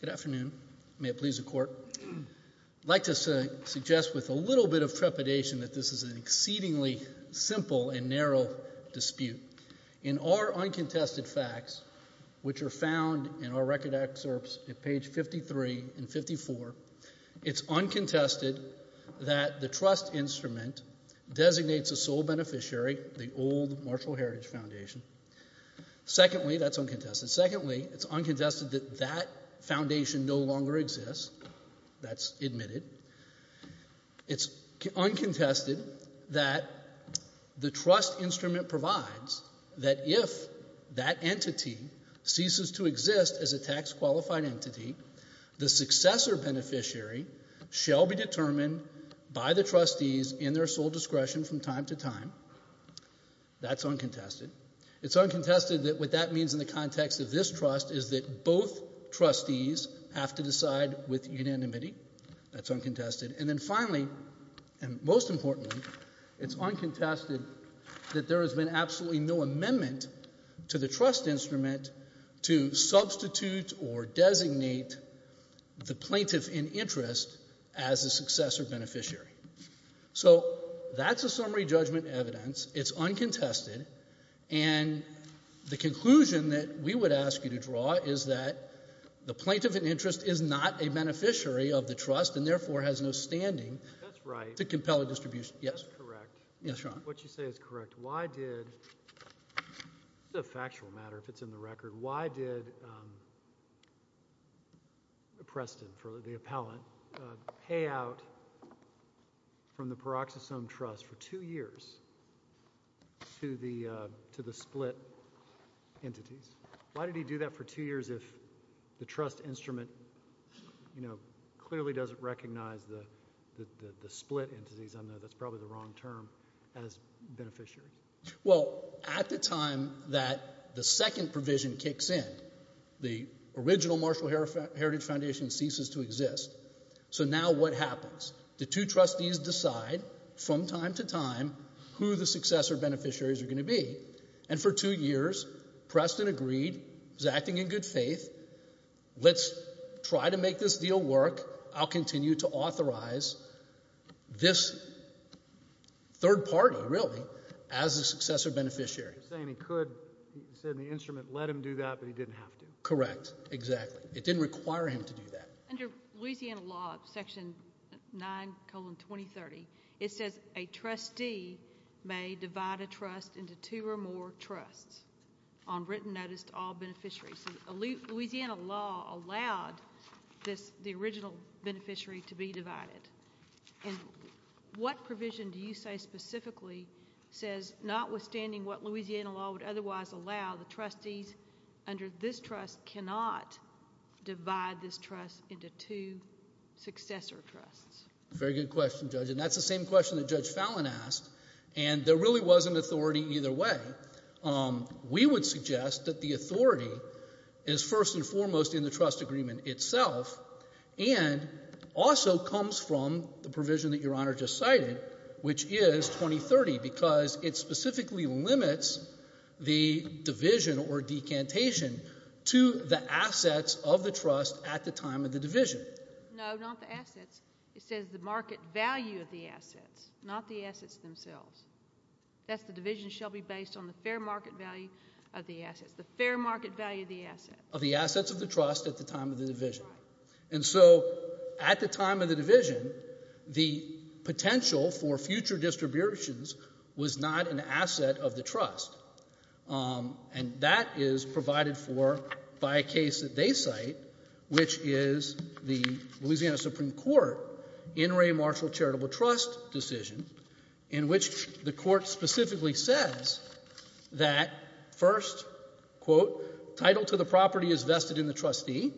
Good afternoon. May it please the court. I'd like to suggest with a little bit of trepidation that this is an exceedingly simple and narrow dispute. In our uncontested facts, which are found in our record excerpts at page 53 and 54, it's uncontested that the trust instrument designates a sole beneficiary, the old Marshall Heritage Foundation. Secondly, that's uncontested. Secondly, it's uncontested that that foundation no longer exists. That's admitted. It's uncontested that the trust instrument provides that if that entity ceases to exist as a tax qualified entity, the successor beneficiary shall be determined by the trustees in their sole discretion from time to time. That's uncontested. It's uncontested that what that means in the context of this trust is that both trustees have to decide with unanimity. That's uncontested. And then finally, and most importantly, it's uncontested that there has been absolutely no amendment to the trust instrument to substitute or designate the plaintiff in interest as a successor beneficiary. So that's a summary judgment evidence. It's uncontested. And the conclusion that we would ask you to draw is that the plaintiff in interest is not a beneficiary of the trust and therefore has no standing to the record. Why did Preston, for the appellant, pay out from the Paroxysome Trust for two years to the split entities? Why did he do that for two years if the trust instrument, you know, clearly doesn't recognize the split entities? I know that's probably the wrong term as beneficiary. Well, at the time that the second provision kicks in, the original Marshall Heritage Foundation ceases to exist. So now what happens? The two trustees decide from time to time who the successor beneficiaries are going to be. And for two years, Preston agreed. He's acting in good faith. Let's try to make this deal work. I'll continue to authorize this third party, really, as a successor beneficiary. You're saying he could, you said in the instrument, let him do that, but he didn't have to. Correct. Exactly. It didn't require him to do that. Under Louisiana law, section 9, colon 2030, it says a trustee may divide a trust into two or more trusts on written notice to all beneficiaries. Louisiana law allowed the original beneficiary to be divided. And what provision do you say specifically says notwithstanding what Louisiana law would otherwise allow, the trustees under this trust cannot divide this trust into two successor trusts? Very good question, Judge. And that's the same question that Judge Fallon asked. And there really wasn't authority either way. We would suggest that the authority is first and foremost in the trust agreement itself and also comes from the provision that Your Honor just cited, which is 2030, because it specifically limits the division or decantation to the assets of the trust at the time of the division. No, not the assets. It says the market value of the assets, not the assets themselves. That's the division shall be based on the fair market value of the assets, the fair market value of the assets. Of the assets of the trust at the time of the division. And so at the time of the division, the potential for future distributions was not an asset of the trust. And that is provided for by a case that they cite, which is the Louisiana Supreme Court In re Marshall Charitable Trust decision in which the court specifically says that first, quote, title to the property is vested in the trustee.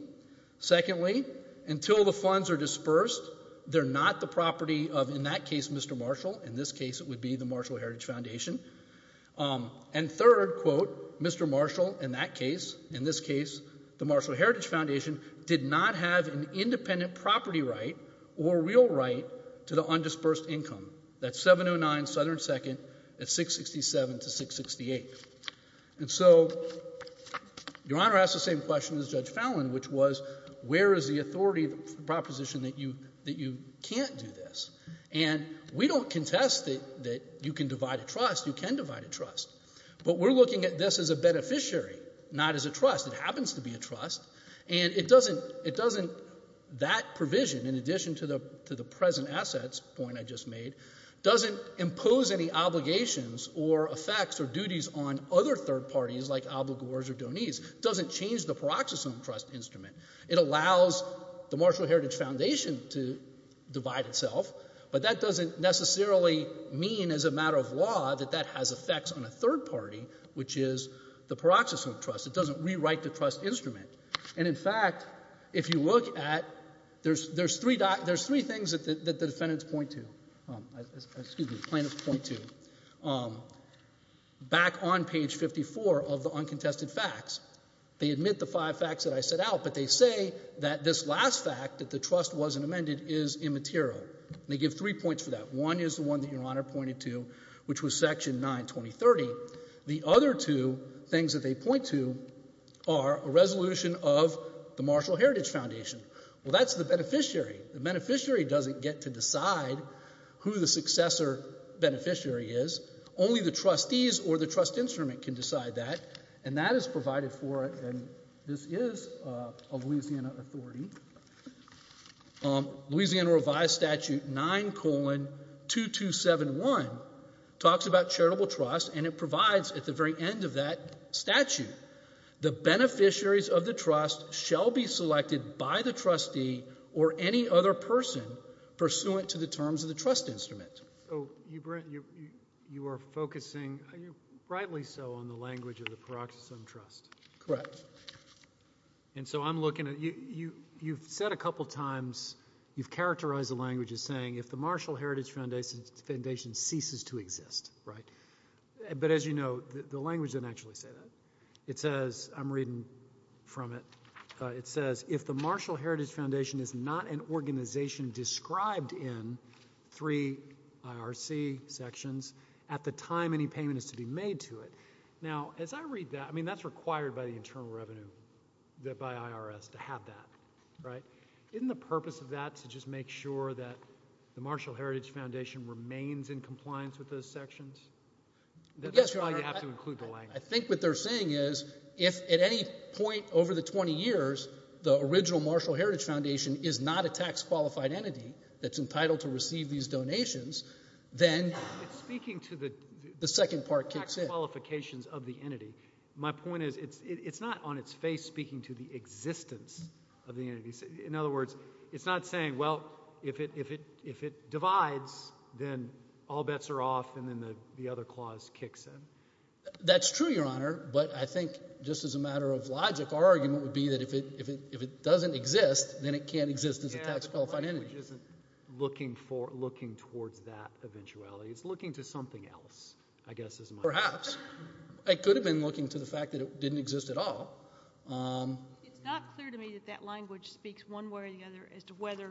Secondly, until the funds are dispersed, they're not the property of, in that case, Mr. Marshall. In this case, it would be the Marshall Heritage Foundation. And third, quote, Mr. Marshall, in that case, in this case, the Marshall Heritage Foundation did not have an independent property right or real right to the undisbursed income. That's 709 Southern 2nd at 667 to 668. And so Your Honor asked the same question as Judge Fallon, which was, where is the authority proposition that you that you can't do this? And we don't contest that you can divide a trust, you can divide a trust. But we're looking at this as a beneficiary, not as a trust. It happens to be a trust. And it doesn't, that provision, in addition to the present assets point I just made, doesn't impose any obligations or effects or duties on other third parties like obligors or donees. Doesn't change the paroxysome trust instrument. It allows the Marshall Heritage Foundation to divide itself, but that doesn't necessarily mean as a matter of law that that has effects on a third party, which is the paroxysome trust. It doesn't rewrite the trust instrument. And in fact, if you look at, there's three things that the defendants point to. Excuse me, plaintiffs point to. Back on page 54 of the uncontested facts. They admit the five facts that I set out, but they say that this last fact, that the trust wasn't amended, is immaterial. They give three points for that. One is the one that your honor pointed to, which was section 92030. The other two things that they point to are a resolution of the Marshall Heritage Foundation. Well, that's the beneficiary. The beneficiary doesn't get to decide who the successor beneficiary is. Only the trustees or the trust instrument can decide that. And that is provided for, and this is a Louisiana authority. Louisiana revised statute 9 colon 2271 talks about charitable trust and it provides at the very end of that statute the beneficiaries of the trust shall be selected by the trustee or any other person pursuant to the terms of the trust instrument. You are focusing, rightly so, on the language of the paroxysm trust. Correct. And so I'm looking at, you've said a couple times, you've characterized the language as saying, if the Marshall Heritage Foundation ceases to exist, right? But as you know, the language didn't actually say that. It says, I'm reading from it, it says, if the Marshall Heritage Foundation is not an organization described in three IRC sections, at the time any payment is to be made to it. Now, as I read that, I mean, that's required by the internal revenue, that by IRS, to have that, right? Isn't the purpose of that to just make sure that the Marshall Heritage Foundation remains in compliance with those sections? That's why you have to include the language. I think what they're saying is, if at any point over the 20 years, the original Marshall Heritage Foundation is not a tax qualified entity that's entitled to receive these donations, then- It's speaking to the- The second part kicks in. Tax qualifications of the entity. My point is, it's not on its face speaking to the existence of the entity. In other words, it's not saying, well, if it divides, then all bets are off, and then the other clause kicks in. That's true, Your Honor. But I think, just as a matter of logic, our argument would be that if it doesn't exist, then it can't exist as a tax qualified entity. Yeah, the language isn't looking towards that eventuality. It's looking to something else, I guess is my- Perhaps. It could have been looking to the fact that it didn't exist at all. It's not clear to me that that language speaks one way or the other as to whether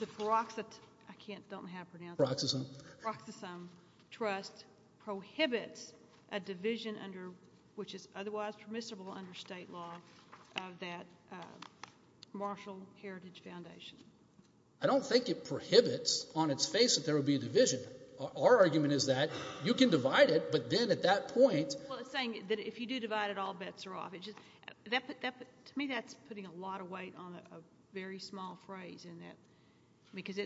the peroxide, I don't know how to pronounce it. Peroxisome. Peroxisome trust prohibits a division under, which is otherwise permissible under state law, of that Marshall Heritage Foundation. I don't think it prohibits on its face that there would be a division. Our argument is that you can divide it, but then at that point- Well, it's saying that if you do divide it, all bets are off. To me, that's putting a lot of weight on a very small phrase in that, because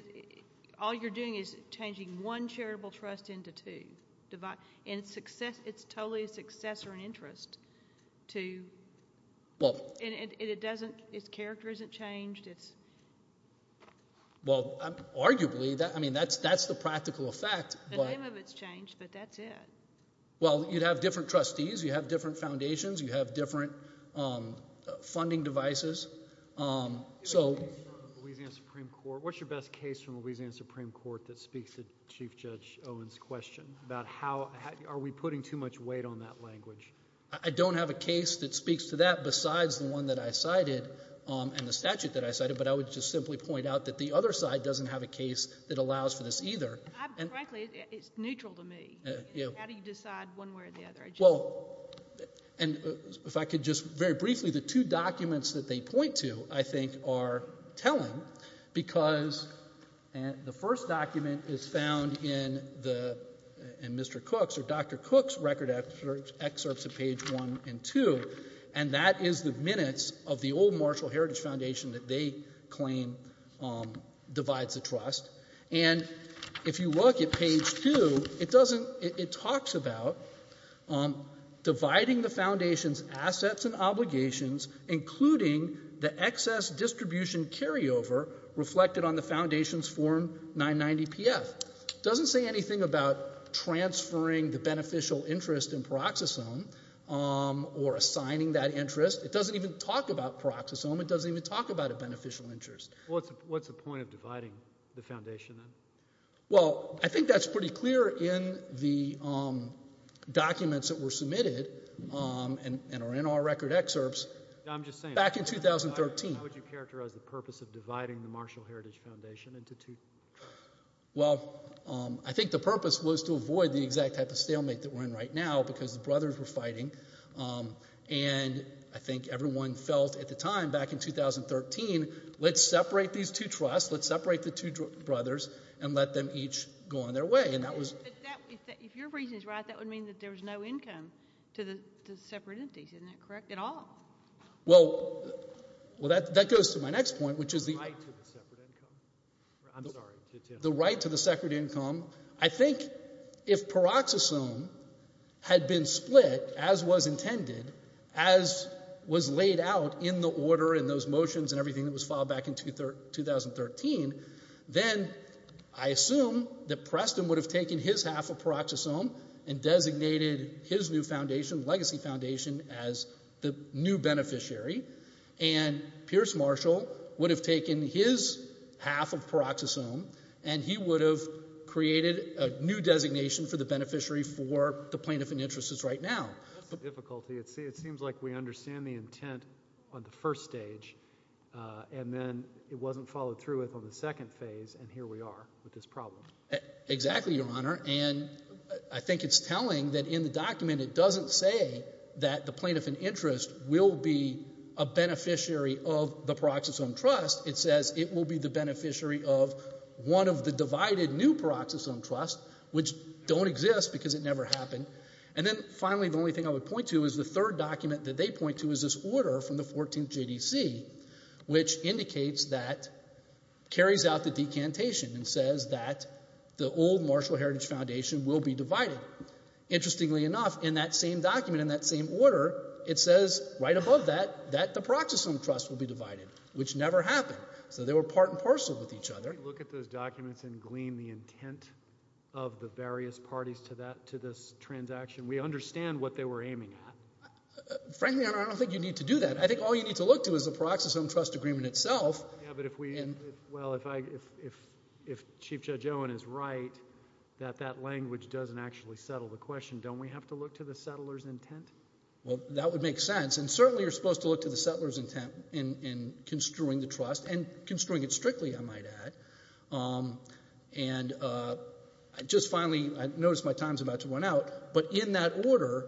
all you're doing is changing one charitable trust into two. It's totally a success or an interest to, and it doesn't, its character isn't changed, it's- Well, arguably, I mean, that's the practical effect, but- The name of it's changed, but that's it. Well, you'd have different trustees, you'd have different foundations, you'd have different funding devices, so- What's your best case from Louisiana Supreme Court that speaks to Chief Judge Owen's question about how, are we putting too much weight on that language? I don't have a case that speaks to that besides the one that I cited and the statute that I cited, but I would just simply point out that the other side doesn't have a case that allows for this either. Frankly, it's neutral to me. How do you decide one way or the other? Well, and if I could just very briefly, the two documents that they point to, I think, are telling, because the first document is found in Mr. Cook's, or Dr. Cook's record excerpts of page one and two, and that is the minutes of the old Marshall Heritage Foundation that they claim divides the trust. And if you look at page two, it talks about dividing the foundation's assets and obligations, including the excess distribution carryover reflected on the foundation's form 990 PF. It doesn't say anything about transferring the beneficial interest in paroxysome or assigning that interest. It doesn't even talk about paroxysome, it doesn't even talk about a beneficial interest. What's the point of dividing the foundation then? Well, I think that's pretty clear in the documents that were submitted and are in our record excerpts back in 2013. How would you characterize the purpose of dividing the Marshall Heritage Foundation into two? Well, I think the purpose was to avoid the exact type of stalemate that we're in right now, because the brothers were fighting. And I think everyone felt at the time, back in 2013, let's separate these two trusts, let's separate the two brothers, and let them each go on their way. If your reason is right, that would mean that there was no income to the separate entities, isn't that correct at all? Well, that goes to my next point, which is the right to the separate income. I think if paroxysome had been split, as was intended, as was laid out in the order and those motions and everything that was filed back in 2013, then I assume that Preston would have taken his half of paroxysome and designated his new foundation, the Legacy Foundation, as the new beneficiary. And Pierce Marshall would have taken his half of paroxysome, and he would have created a new designation for the beneficiary for the plaintiff in interest is right now. That's the difficulty. It seems like we understand the intent on the first stage, and then it wasn't followed through with on the second phase, and here we are with this problem. Exactly, Your Honor, and I think it's telling that in the document it doesn't say that the plaintiff in interest will be a beneficiary of the paroxysome trust. It says it will be the beneficiary of one of the divided new paroxysome trusts, which don't exist because it never happened. And then finally, the only thing I would point to is the third document that they point to is this order from the 14th JDC, which indicates that, carries out the decantation, and says that the old Marshall Heritage Foundation will be divided. Interestingly enough, in that same document, in that same order, it says right above that that the paroxysome trust will be divided, which never happened. So they were part and parcel with each other. Can we look at those documents and glean the intent of the various parties to this transaction? We understand what they were aiming at. Frankly, Your Honor, I don't think you need to do that. I think all you need to look to is the paroxysome trust agreement itself. Yeah, but if we, well, if Chief Judge Owen is right, that that language doesn't actually settle the question. Don't we have to look to the settler's intent? Well, that would make sense. And certainly, you're supposed to look to the settler's intent in construing the trust, and construing it strictly, I might add. And just finally, I notice my time's about to run out, but in that order,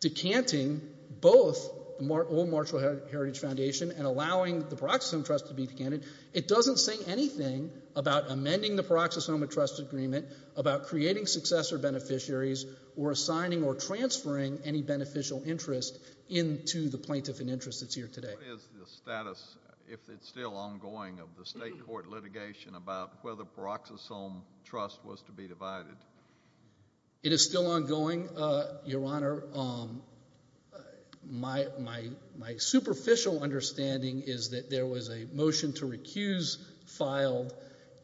decanting both the old Marshall Heritage Foundation and allowing the paroxysome trust to be decanted, it doesn't say anything about amending the paroxysome trust agreement, about creating successor beneficiaries, or assigning or transferring any beneficial interest into the plaintiff in interest that's here today. What is the status, if it's still ongoing, of the state court litigation about whether paroxysome trust was to be divided? It is still ongoing, Your Honor. My superficial understanding is that there was a motion to recuse filed,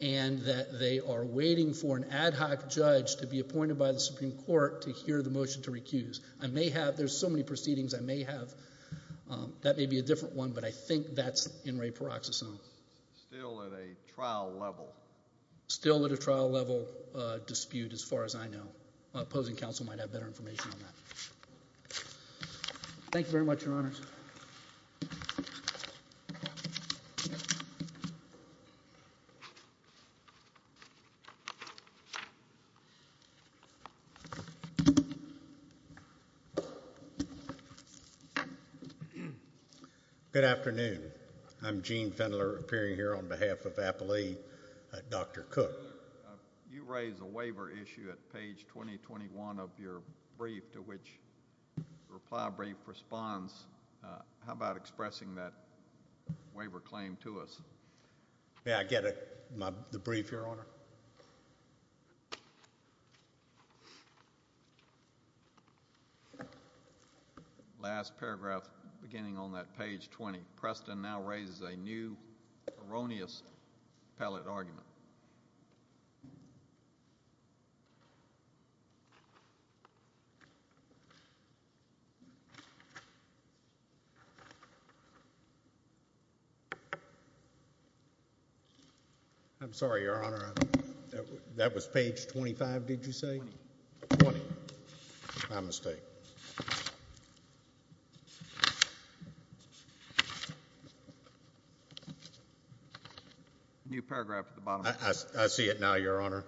and that they are waiting for an ad hoc judge to be appointed by the Supreme Court to hear the motion to recuse. I may have, there's so many proceedings, I may have. That may be a different one, but I think that's in re paroxysome. Still at a trial level. Still at a trial level dispute, as far as I know. Opposing counsel might have better information on that. Thank you very much, Your Honors. Good afternoon. I'm Gene Fendler, appearing here on behalf of Applea, Dr. Cook. You raised a waiver issue at page 2021 of your brief, to which the reply brief responds. How about expressing that waiver claim to us? May I get the brief, Your Honor? Last paragraph, beginning on that page 20. Preston now raises a new erroneous appellate argument. I'm sorry, Your Honor. That was page 25, did you say? 20. 20. My mistake. New paragraph at the bottom. I see it now, Your Honor.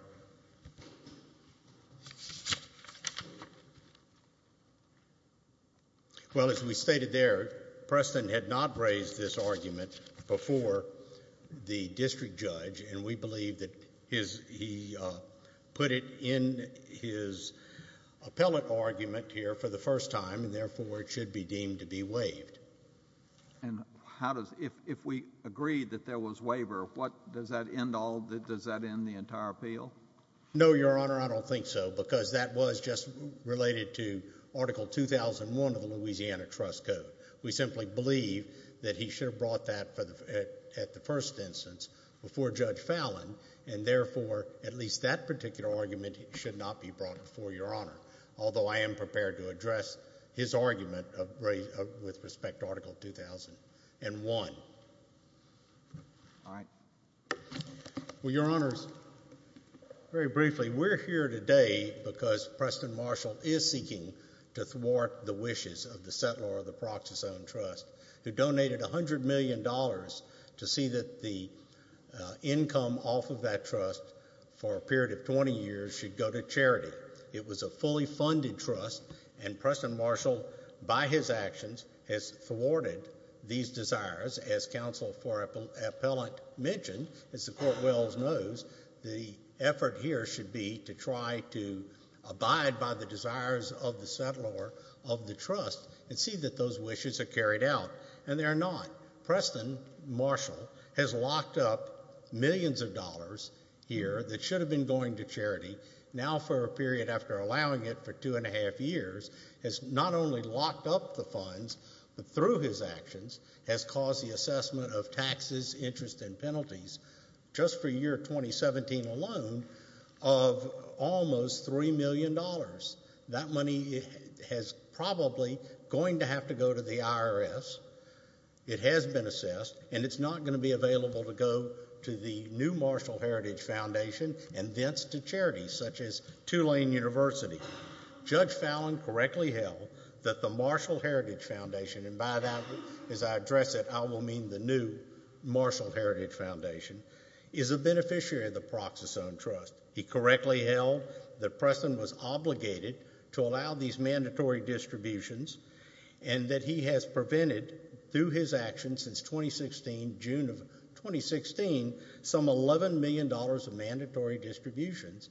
Well, as we stated there, Preston had not raised this argument before the district judge, and we believe that he put it in his appellate argument here for the first time, and therefore it should be deemed to be waived. And if we agree that there was waiver, does that end the entire appeal? No, Your Honor, I don't think so, because that was just related to Article 2001 of the Louisiana Trust Code. We simply believe that he should have brought that at the first instance before Judge Fallin, and therefore at least that particular argument should not be brought before Your Honor, although I am prepared to address his argument with respect to Article 2001. All right. Well, Your Honors, very briefly, we're here today because Preston Marshall is seeking to thwart the wishes of the settler of the Proxy Zone Trust, who donated $100 million to see that the income off of that trust for a period of 20 years should go to charity. It was a fully funded trust, and Preston Marshall, by his actions, has thwarted these desires. As Counsel for Appellant mentioned, as the Court wills knows, the effort here should be to try to abide by the desires of the settler of the trust and see that those wishes are carried out, and they are not. Preston Marshall has locked up millions of dollars here that should have been going to charity, now for a period after allowing it for two and a half years, has not only locked up the funds, but through his actions, has caused the assessment of taxes, interest, and penalties, just for year 2017 alone, of almost $3 million. That money is probably going to have to go to the IRS. It has been assessed, and it's not going to be available to go to the new Marshall Heritage Foundation and thence to charities such as Tulane University. Judge Fallon correctly held that the Marshall Heritage Foundation, and by that, as I address it, I will mean the new Marshall Heritage Foundation, is a beneficiary of the Proxas Owned Trust. He correctly held that Preston was obligated to allow these mandatory distributions and that he has prevented, through his actions since 2016, June of 2016, some $11 million of mandatory distributions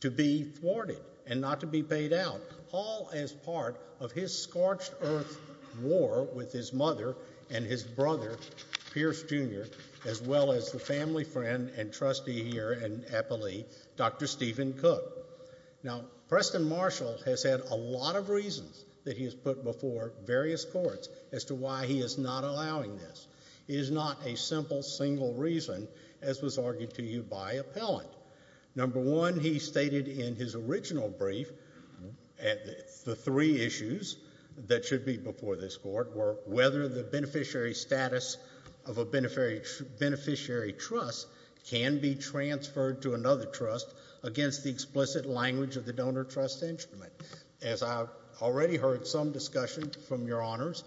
to be thwarted and not to be paid out, all as part of his scorched earth war with his mother and his brother, Pierce Jr., as well as the family friend and trustee here in Appalachia, Dr. Stephen Cook. Now, Preston Marshall has had a lot of reasons that he has put before various courts as to why he is not allowing this. It is not a simple, single reason, as was argued to you by Appellant. Number one, he stated in his original brief the three issues that should be before this court were whether the beneficiary status of a beneficiary trust can be transferred to another trust against the explicit language of the donor trust instrument. As I've already heard some discussion from your honors,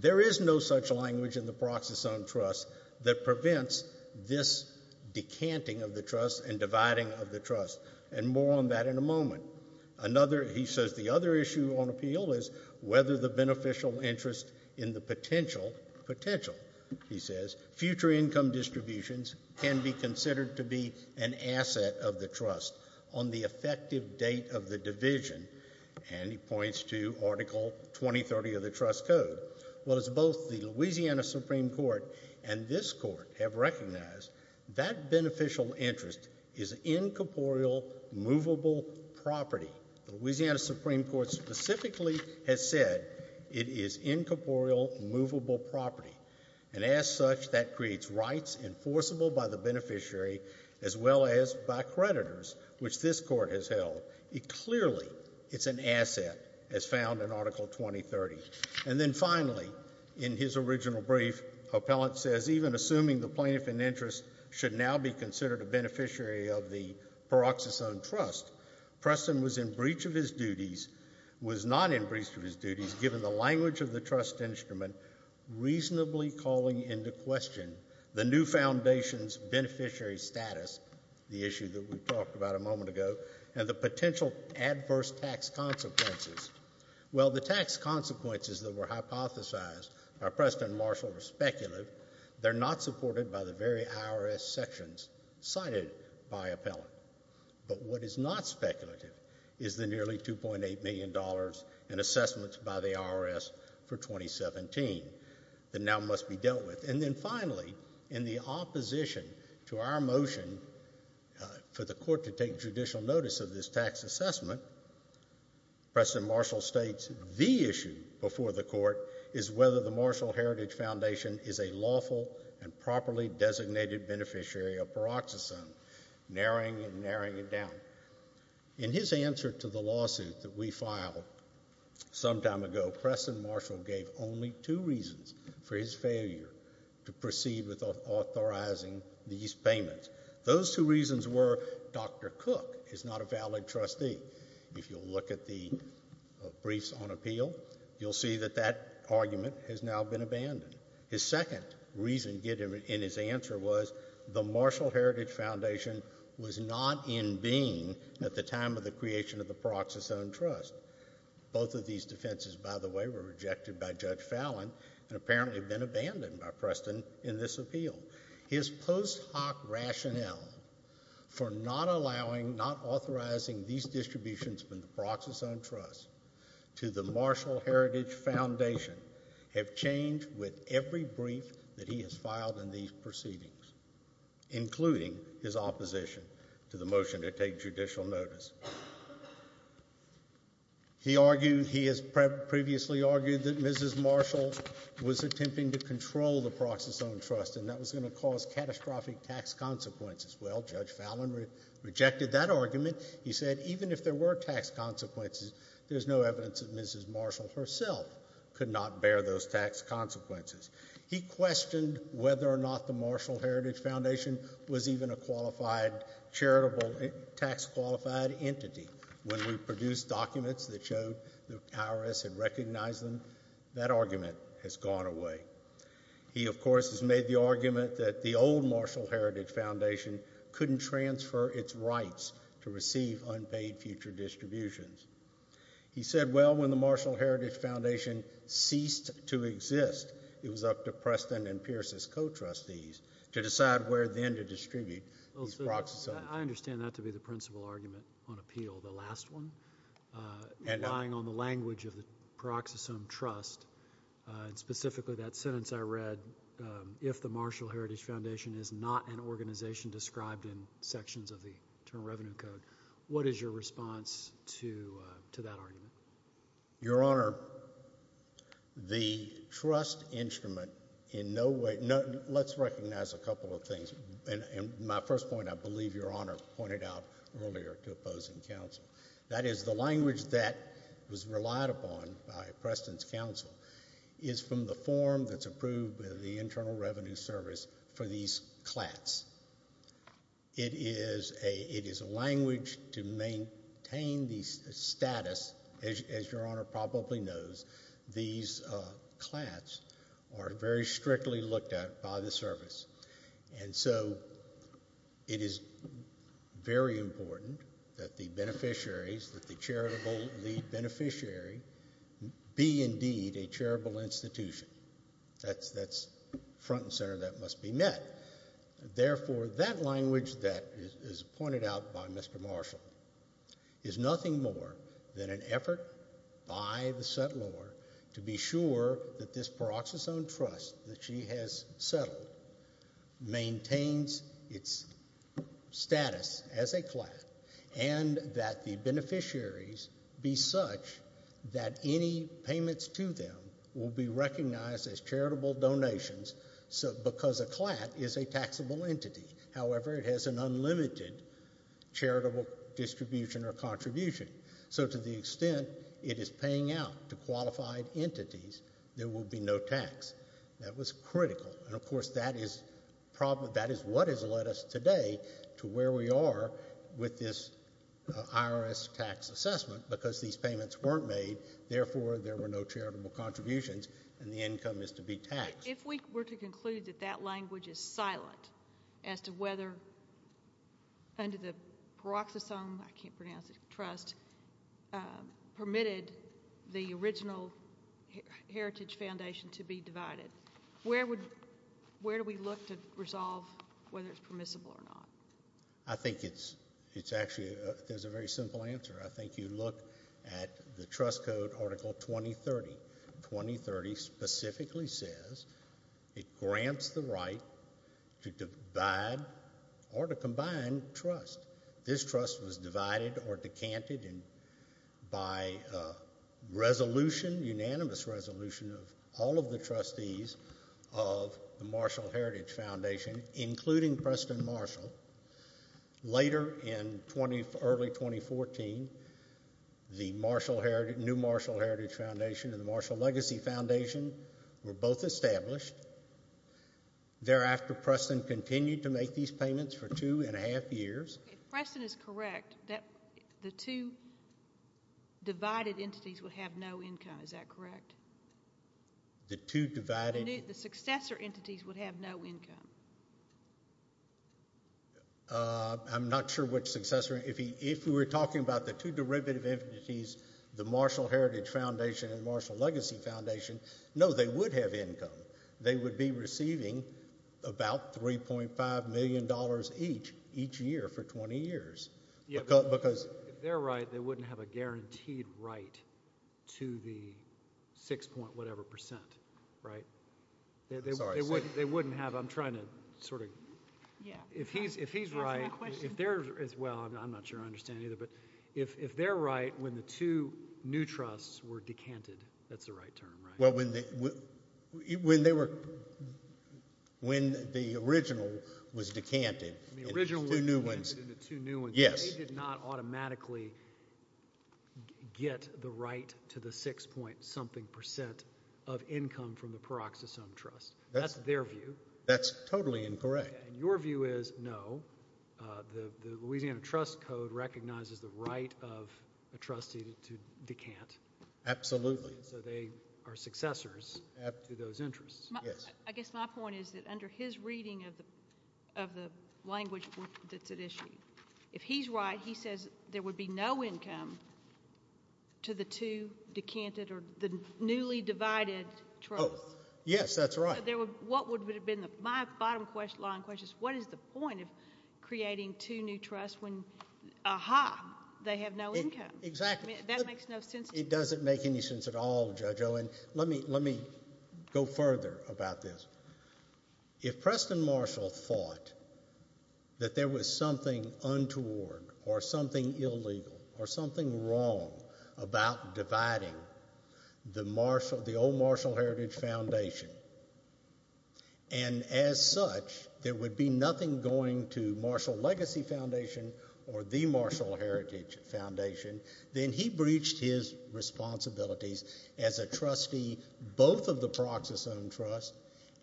there is no such language in the Proxas Owned Trust that prevents this decanting of the trust and dividing of the trust, and more on that in a moment. Another, he says, the other issue on appeal is whether the beneficial interest in the potential, potential, he says, future income distributions can be considered to be an asset of the trust on the effective date of the division, and he points to Article 2030 of the Trust Code. Well, as both the Louisiana Supreme Court and this court have recognized, that beneficial interest is incorporeal, movable property. The Louisiana Supreme Court specifically has said it is incorporeal, movable property, and as such, that creates rights enforceable by the beneficiary as well as by creditors, which this court has held. Clearly, it's an asset as found in Article 2030. And then finally, in his original brief, Appellant says, even assuming the plaintiff in interest should now be considered a beneficiary of the Proxas Owned Trust, Preston was in breach of his duties, was not in breach of his duties, given the language of the trust instrument reasonably calling into question the new foundation's beneficiary status, the issue that we talked about a moment ago, and the potential adverse tax consequences. Well, the tax consequences that were hypothesized by Preston Marshall are speculative. They're not supported by the very IRS sections cited by Appellant. But what is not speculative is the nearly $2.8 million in assessments by the IRS for 2017 that now must be dealt with. And then finally, in the opposition to our motion for the court to take judicial notice of this tax assessment, Preston Marshall states the issue before the court is whether the Marshall Heritage Foundation is a lawful and properly designated beneficiary of Proxas Owned, narrowing and narrowing it down. In his answer to the lawsuit that we filed some time ago, Preston Marshall gave only two reasons for his failure to proceed with authorizing these payments. Those two reasons were Dr. Cook is not a valid trustee. If you'll look at the briefs on appeal, you'll see that that argument has now been abandoned. His second reason given in his answer was the Marshall Heritage Foundation was not in being at the time of the creation of the Proxas Owned Trust. Both of these defenses, by the way, were rejected by Judge Fallon and apparently have been abandoned by Preston in this appeal. His post hoc rationale for not allowing, not authorizing these distributions from the Proxas Owned Trust to the Marshall Heritage Foundation have changed with every brief that he has filed in these proceedings, including his opposition to the motion to take judicial notice. He argued, he has previously argued that Mrs. Marshall was attempting to control the Proxas Owned Trust and that was going to cause catastrophic tax consequences. Well, Judge Fallon rejected that argument. He said even if there were tax consequences, there's no evidence that Mrs. Marshall herself could not bear those tax consequences. He questioned whether or not the Marshall Heritage Foundation was even a qualified charitable tax qualified entity. When we produced documents that showed the IRS had recognized them, that argument has gone away. He, of course, has made the argument that the old Marshall Heritage Foundation couldn't transfer its rights to receive unpaid future distributions. He said, well, when the Marshall Heritage Foundation ceased to exist, it was up to Preston and Pierce's co-trustees to decide where then to distribute these Proxas Owned Trusts. I understand that to be the principal argument on appeal, the last one, relying on the language of the Proxas Owned Trust. Specifically, that sentence I read, if the Marshall Heritage Foundation is not an organization described in sections of the Internal Revenue Code, what is your response to that argument? Your Honor, the trust instrument in no way, let's recognize a couple of things. My first point, I believe Your Honor pointed out earlier to opposing counsel. That is, the language that was relied upon by Preston's counsel is from the form that's approved by the Internal Revenue Service for these clats. It is a language to maintain the status, as Your Honor probably knows, these clats are very strictly looked at by the service. And so it is very important that the beneficiaries, that the charitable lead beneficiary, be indeed a charitable institution. That's front and center, that must be met. Therefore, that language that is pointed out by Mr. Marshall is nothing more than an effort by the settlor to be sure that this Proxas Owned Trust that she has settled maintains its status as a clat and that the beneficiaries be such that any payments to them will be recognized as charitable donations because a clat is a taxable entity. However, it has an unlimited charitable distribution or contribution. So to the extent it is paying out to qualified entities, there will be no tax. That was critical. And of course, that is what has led us today to where we are with this IRS tax assessment because these payments weren't made. Therefore, there were no charitable contributions and the income is to be taxed. If we were to conclude that that language is silent as to whether under the Proxas Owned, I can't pronounce it, Trust, permitted the original Heritage Foundation to be divided, where would, where do we look to resolve whether it's permissible or not? I think it's actually, there's a very simple answer. I think you look at the Trust Code Article 2030. Article 2030 specifically says it grants the right to divide or to combine trust. This trust was divided or decanted by resolution, unanimous resolution of all of the trustees of the Marshall Heritage Foundation, including Preston Marshall. Later in early 2014, the new Marshall Heritage Foundation and the Marshall Legacy Foundation were both established. Thereafter, Preston continued to make these payments for two and a half years. If Preston is correct, the two divided entities would have no income. Is that correct? The two divided? The successor entities would have no income. I'm not sure which successor. If we were talking about the two derivative entities, the Marshall Heritage Foundation and the Marshall Legacy Foundation, no, they would have income. They would be receiving about $3.5 million each, each year for 20 years. If they're right, they wouldn't have a guaranteed right to the 6 point whatever percent, right? They wouldn't have, I'm trying to sort of, if he's right, if they're, well, I'm not sure I understand either, but if they're right when the two new trusts were decanted, that's the right term, right? Well, when they were, when the original was decanted. The original was decanted into two new ones. Yes. They did not automatically get the right to the 6 point something percent of income from the Peroxisome Trust. That's their view. That's totally incorrect. And your view is, no, the Louisiana Trust Code recognizes the right of a trustee to decant. Absolutely. So they are successors to those interests. Yes. I guess my point is that under his reading of the language that's at issue, if he's right, he says there would be no income to the two decanted or the newly divided trusts. Oh, yes, that's right. So there would, what would have been the, my bottom line question is what is the point of creating two new trusts when, aha, they have no income? Exactly. That makes no sense to me. It doesn't make any sense at all, Judge Owen. Let me, let me go further about this. If Preston Marshall thought that there was something untoward or something illegal or something wrong about dividing the old Marshall Heritage Foundation, and as such there would be nothing going to Marshall Legacy Foundation or the Marshall Heritage Foundation, then he breached his responsibilities as a trustee both of the Peroxisome Trust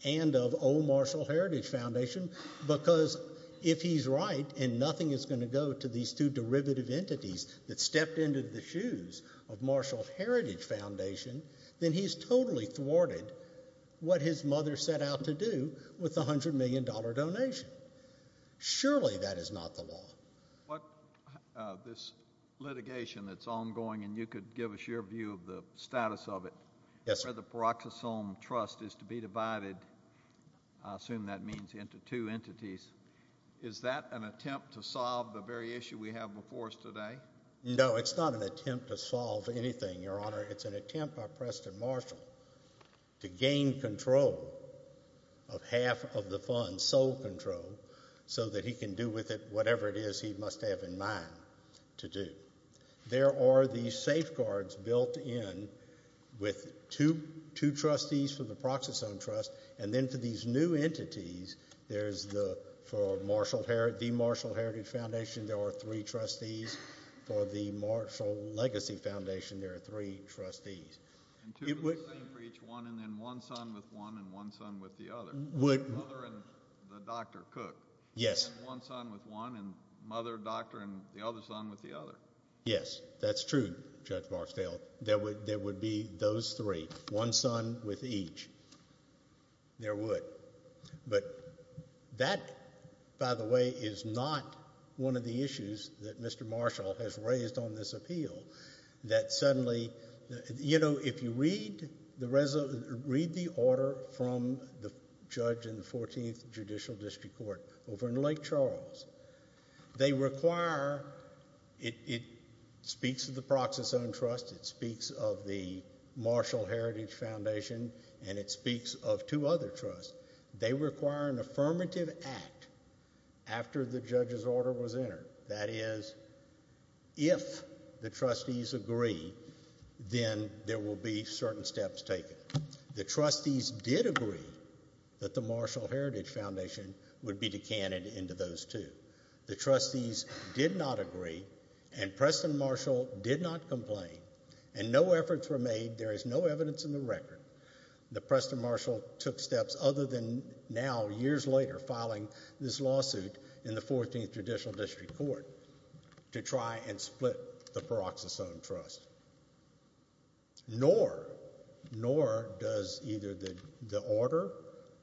and of old Marshall Heritage Foundation because if he's right and nothing is going to go to these two derivative entities that stepped into the shoes of Marshall Heritage Foundation, then he's totally thwarted what his mother set out to do with the $100 million donation. Surely that is not the law. What, this litigation that's ongoing, and you could give us your view of the status of it. Yes, sir. The Peroxisome Trust is to be divided, I assume that means into two entities. Is that an attempt to solve the very issue we have before us today? No, it's not an attempt to solve anything, Your Honor. It's an attempt by Preston Marshall to gain control of half of the funds, sole control, so that he can do with it whatever it is he must have in mind to do. There are these safeguards built in with two trustees for the Peroxisome Trust, and then for these new entities there's the, for the Marshall Heritage Foundation there are three trustees. For the Marshall Legacy Foundation there are three trustees. And two of the same for each one, and then one son with one and one son with the other. Mother and the doctor, Cook. Yes. And one son with one, and mother, doctor, and the other son with the other. Yes, that's true, Judge Barksdale. There would be those three, one son with each. There would. But that, by the way, is not one of the issues that Mr. Marshall has raised on this appeal, that suddenly, you know, if you read the order from the judge in the 14th Judicial District Court over in Lake Charles, they require, it speaks of the Peroxisome Trust, it speaks of the Marshall Heritage Foundation, and it speaks of two other trusts, they require an affirmative act after the judge's order was entered. That is, if the trustees agree, then there will be certain steps taken. The trustees did agree that the Marshall Heritage Foundation would be decanted into those two. The trustees did not agree, and Preston Marshall did not complain, and no efforts were made, there is no evidence in the record that Preston Marshall took steps other than now, years later, filing this lawsuit in the 14th Judicial District Court to try and split the Peroxisome Trust. Nor does either the order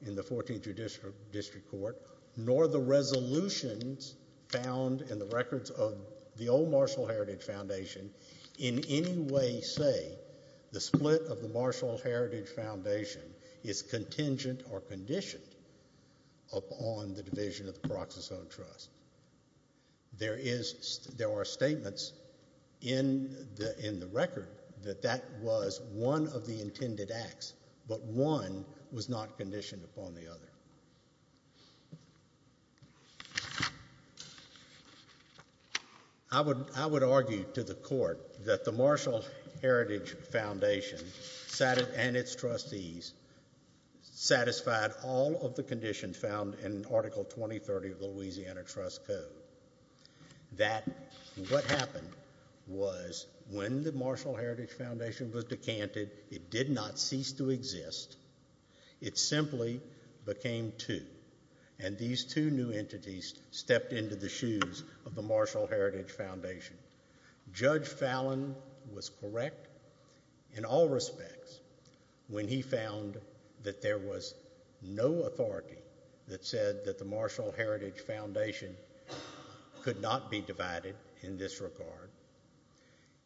in the 14th Judicial District Court, nor the resolutions found in the records of the old Marshall Heritage Foundation, in any way say the split of the Marshall Heritage Foundation is contingent or conditioned upon the division of the Peroxisome Trust. There are statements in the record that that was one of the intended acts, but one was not conditioned upon the other. I would argue to the court that the Marshall Heritage Foundation and its trustees satisfied all of the conditions found in Article 2030 of the Louisiana Trust Code. That what happened was when the Marshall Heritage Foundation was decanted, it did not cease to exist. It simply became two, and these two new entities stepped into the shoes of the Marshall Heritage Foundation. Judge Fallon was correct in all respects when he found that there was no authority that said that the Marshall Heritage Foundation could not be divided in this regard.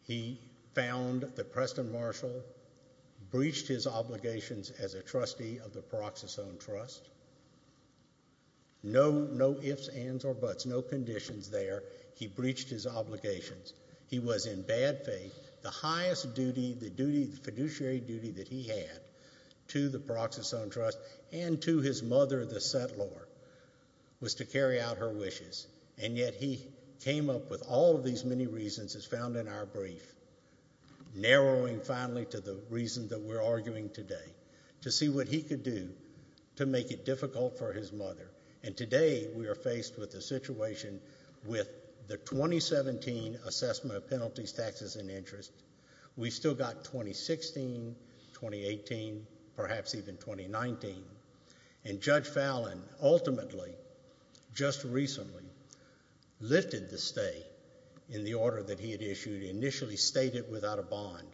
He found that Preston Marshall breached his obligations as a trustee of the Peroxisome Trust. No ifs, ands, or buts, no conditions there. He breached his obligations. He was in bad faith. The highest duty, the fiduciary duty that he had to the Peroxisome Trust and to his mother, the settlor, was to carry out her wishes. Yet he came up with all of these many reasons as found in our brief, narrowing finally to the reason that we're arguing today, to see what he could do to make it difficult for his mother. Today, we are faced with the situation with the 2017 assessment of penalties, taxes, and interest. We've still got 2016, 2018, perhaps even 2019, and Judge Fallon ultimately, just recently, lifted the stay in the order that he had issued. He initially stayed it without a bond,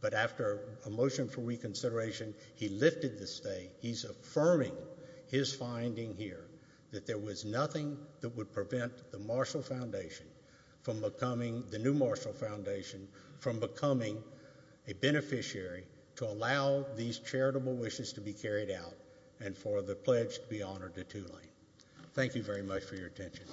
but after a motion for reconsideration, he lifted the stay. He's affirming his finding here that there was nothing that would prevent the Marshall Foundation from becoming, the new Marshall Foundation, from becoming a beneficiary to allow these charitable wishes to be carried out and for the pledge to be honored to Tulane. Thank you very much for your attention.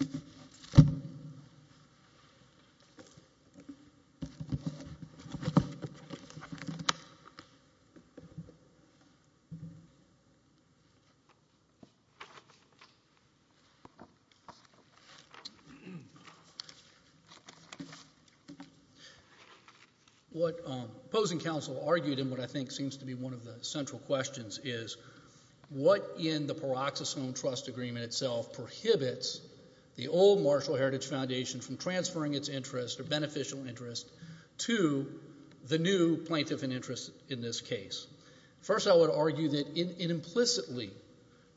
What opposing counsel argued and what I think seems to be one of the central questions is, what in the Peroxisome Trust Agreement itself prohibits the old Marshall Heritage Foundation from transferring its interest or beneficial interest to the new plaintiff in interest in this case? First, I would argue that it implicitly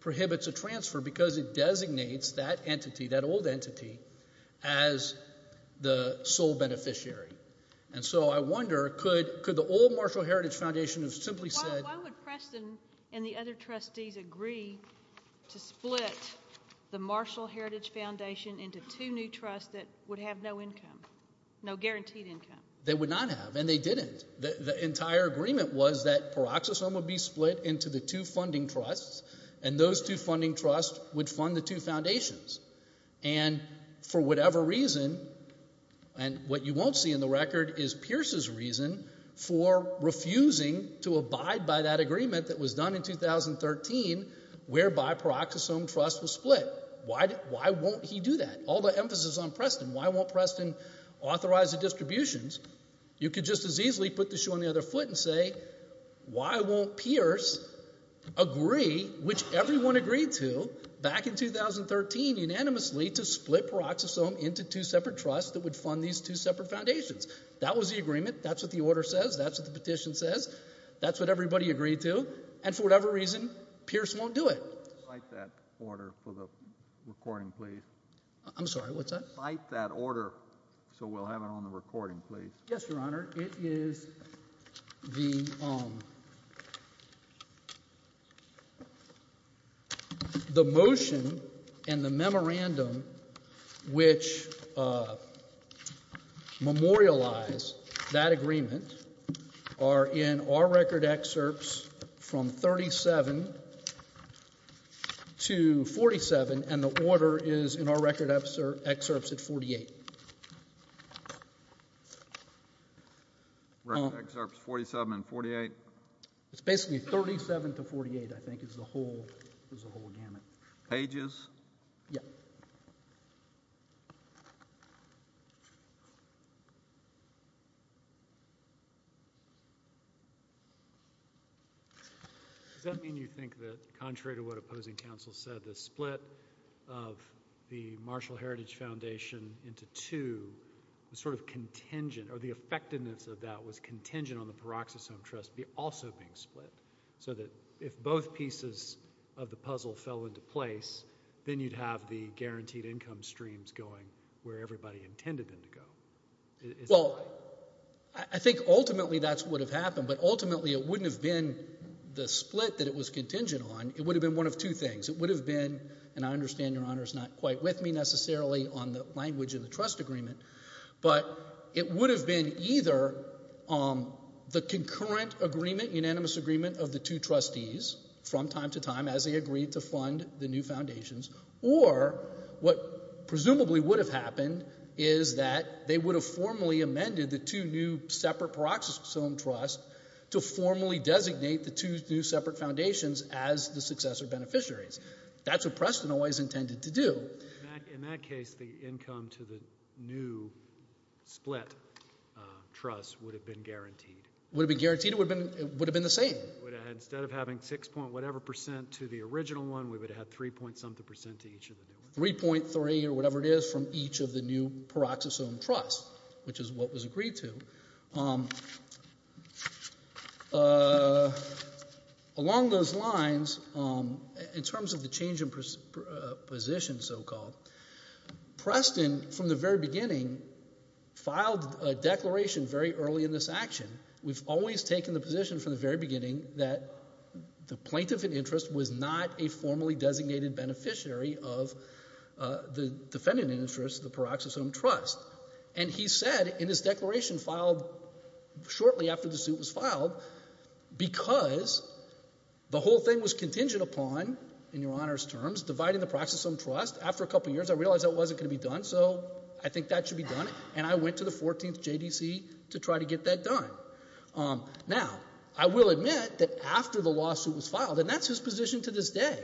prohibits a transfer because it designates that entity, that old entity, as the sole beneficiary. So I wonder, could the old Marshall Heritage Foundation have simply said— Why would Preston and the other trustees agree to split the Marshall Heritage Foundation into two new trusts that would have no income, no guaranteed income? They would not have, and they didn't. The entire agreement was that Peroxisome would be split into the two funding trusts, and those two funding trusts would fund the two foundations. And for whatever reason, and what you won't see in the record is Pierce's reason for refusing to abide by that agreement that was done in 2013 whereby Peroxisome Trust was split. Why won't he do that? Why won't Preston authorize the distributions? You could just as easily put the shoe on the other foot and say, why won't Pierce agree, which everyone agreed to back in 2013 unanimously, to split Peroxisome into two separate trusts that would fund these two separate foundations? That was the agreement. That's what the order says. That's what the petition says. That's what everybody agreed to. And for whatever reason, Pierce won't do it. The motion and the memorandum which memorialize that agreement are in our record excerpts from 37. To 47, and the order is in our record excerpts at 48. Record excerpts 47 and 48? It's basically 37 to 48, I think, is the whole gamut. Pages? Yeah. Does that mean you think that contrary to what opposing counsel said, the split of the Marshall Heritage Foundation into two was sort of contingent, or the effectiveness of that was contingent on the Peroxisome Trust also being split? So that if both pieces of the puzzle fell into place, then you'd have the guaranteed income streams going where everybody intended them to go. Well, I think ultimately that's what would have happened, but ultimately it wouldn't have been the split that it was contingent on. It would have been one of two things. It would have been, and I understand Your Honor is not quite with me necessarily on the language of the trust agreement, but it would have been either the concurrent agreement, unanimous agreement of the two trustees from time to time as they agreed to fund the new foundations, or what presumably would have happened is that they would have formally amended the two new separate Peroxisome Trusts to formally designate the two new separate foundations as the successor beneficiaries. That's what Preston always intended to do. In that case, the income to the new split trust would have been guaranteed. Would have been guaranteed? It would have been the same. Instead of having 6 point whatever percent to the original one, we would have had 3 point something percent to each of the new ones. 3.3 or whatever it is from each of the new Peroxisome Trusts, which is what was agreed to. Along those lines, in terms of the change in position so-called, Preston from the very beginning filed a declaration very early in this action. We've always taken the position from the very beginning that the plaintiff in interest was not a formally designated beneficiary of the defendant in interest of the Peroxisome Trust. And he said in his declaration filed shortly after the suit was filed, because the whole thing was contingent upon, in Your Honor's terms, dividing the Peroxisome Trust. After a couple of years, I realized that wasn't going to be done. So I think that should be done. And I went to the 14th JDC to try to get that done. Now, I will admit that after the lawsuit was filed, and that's his position to this day,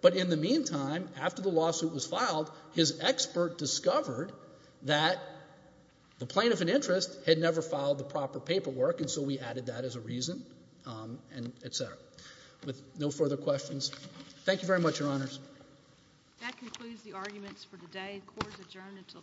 but in the meantime, after the lawsuit was filed, his expert discovered that the plaintiff in interest had never filed the proper paperwork. And so we added that as a reason and et cetera. With no further questions, thank you very much, Your Honors. That concludes the arguments for today. Court is adjourned until tomorrow afternoon.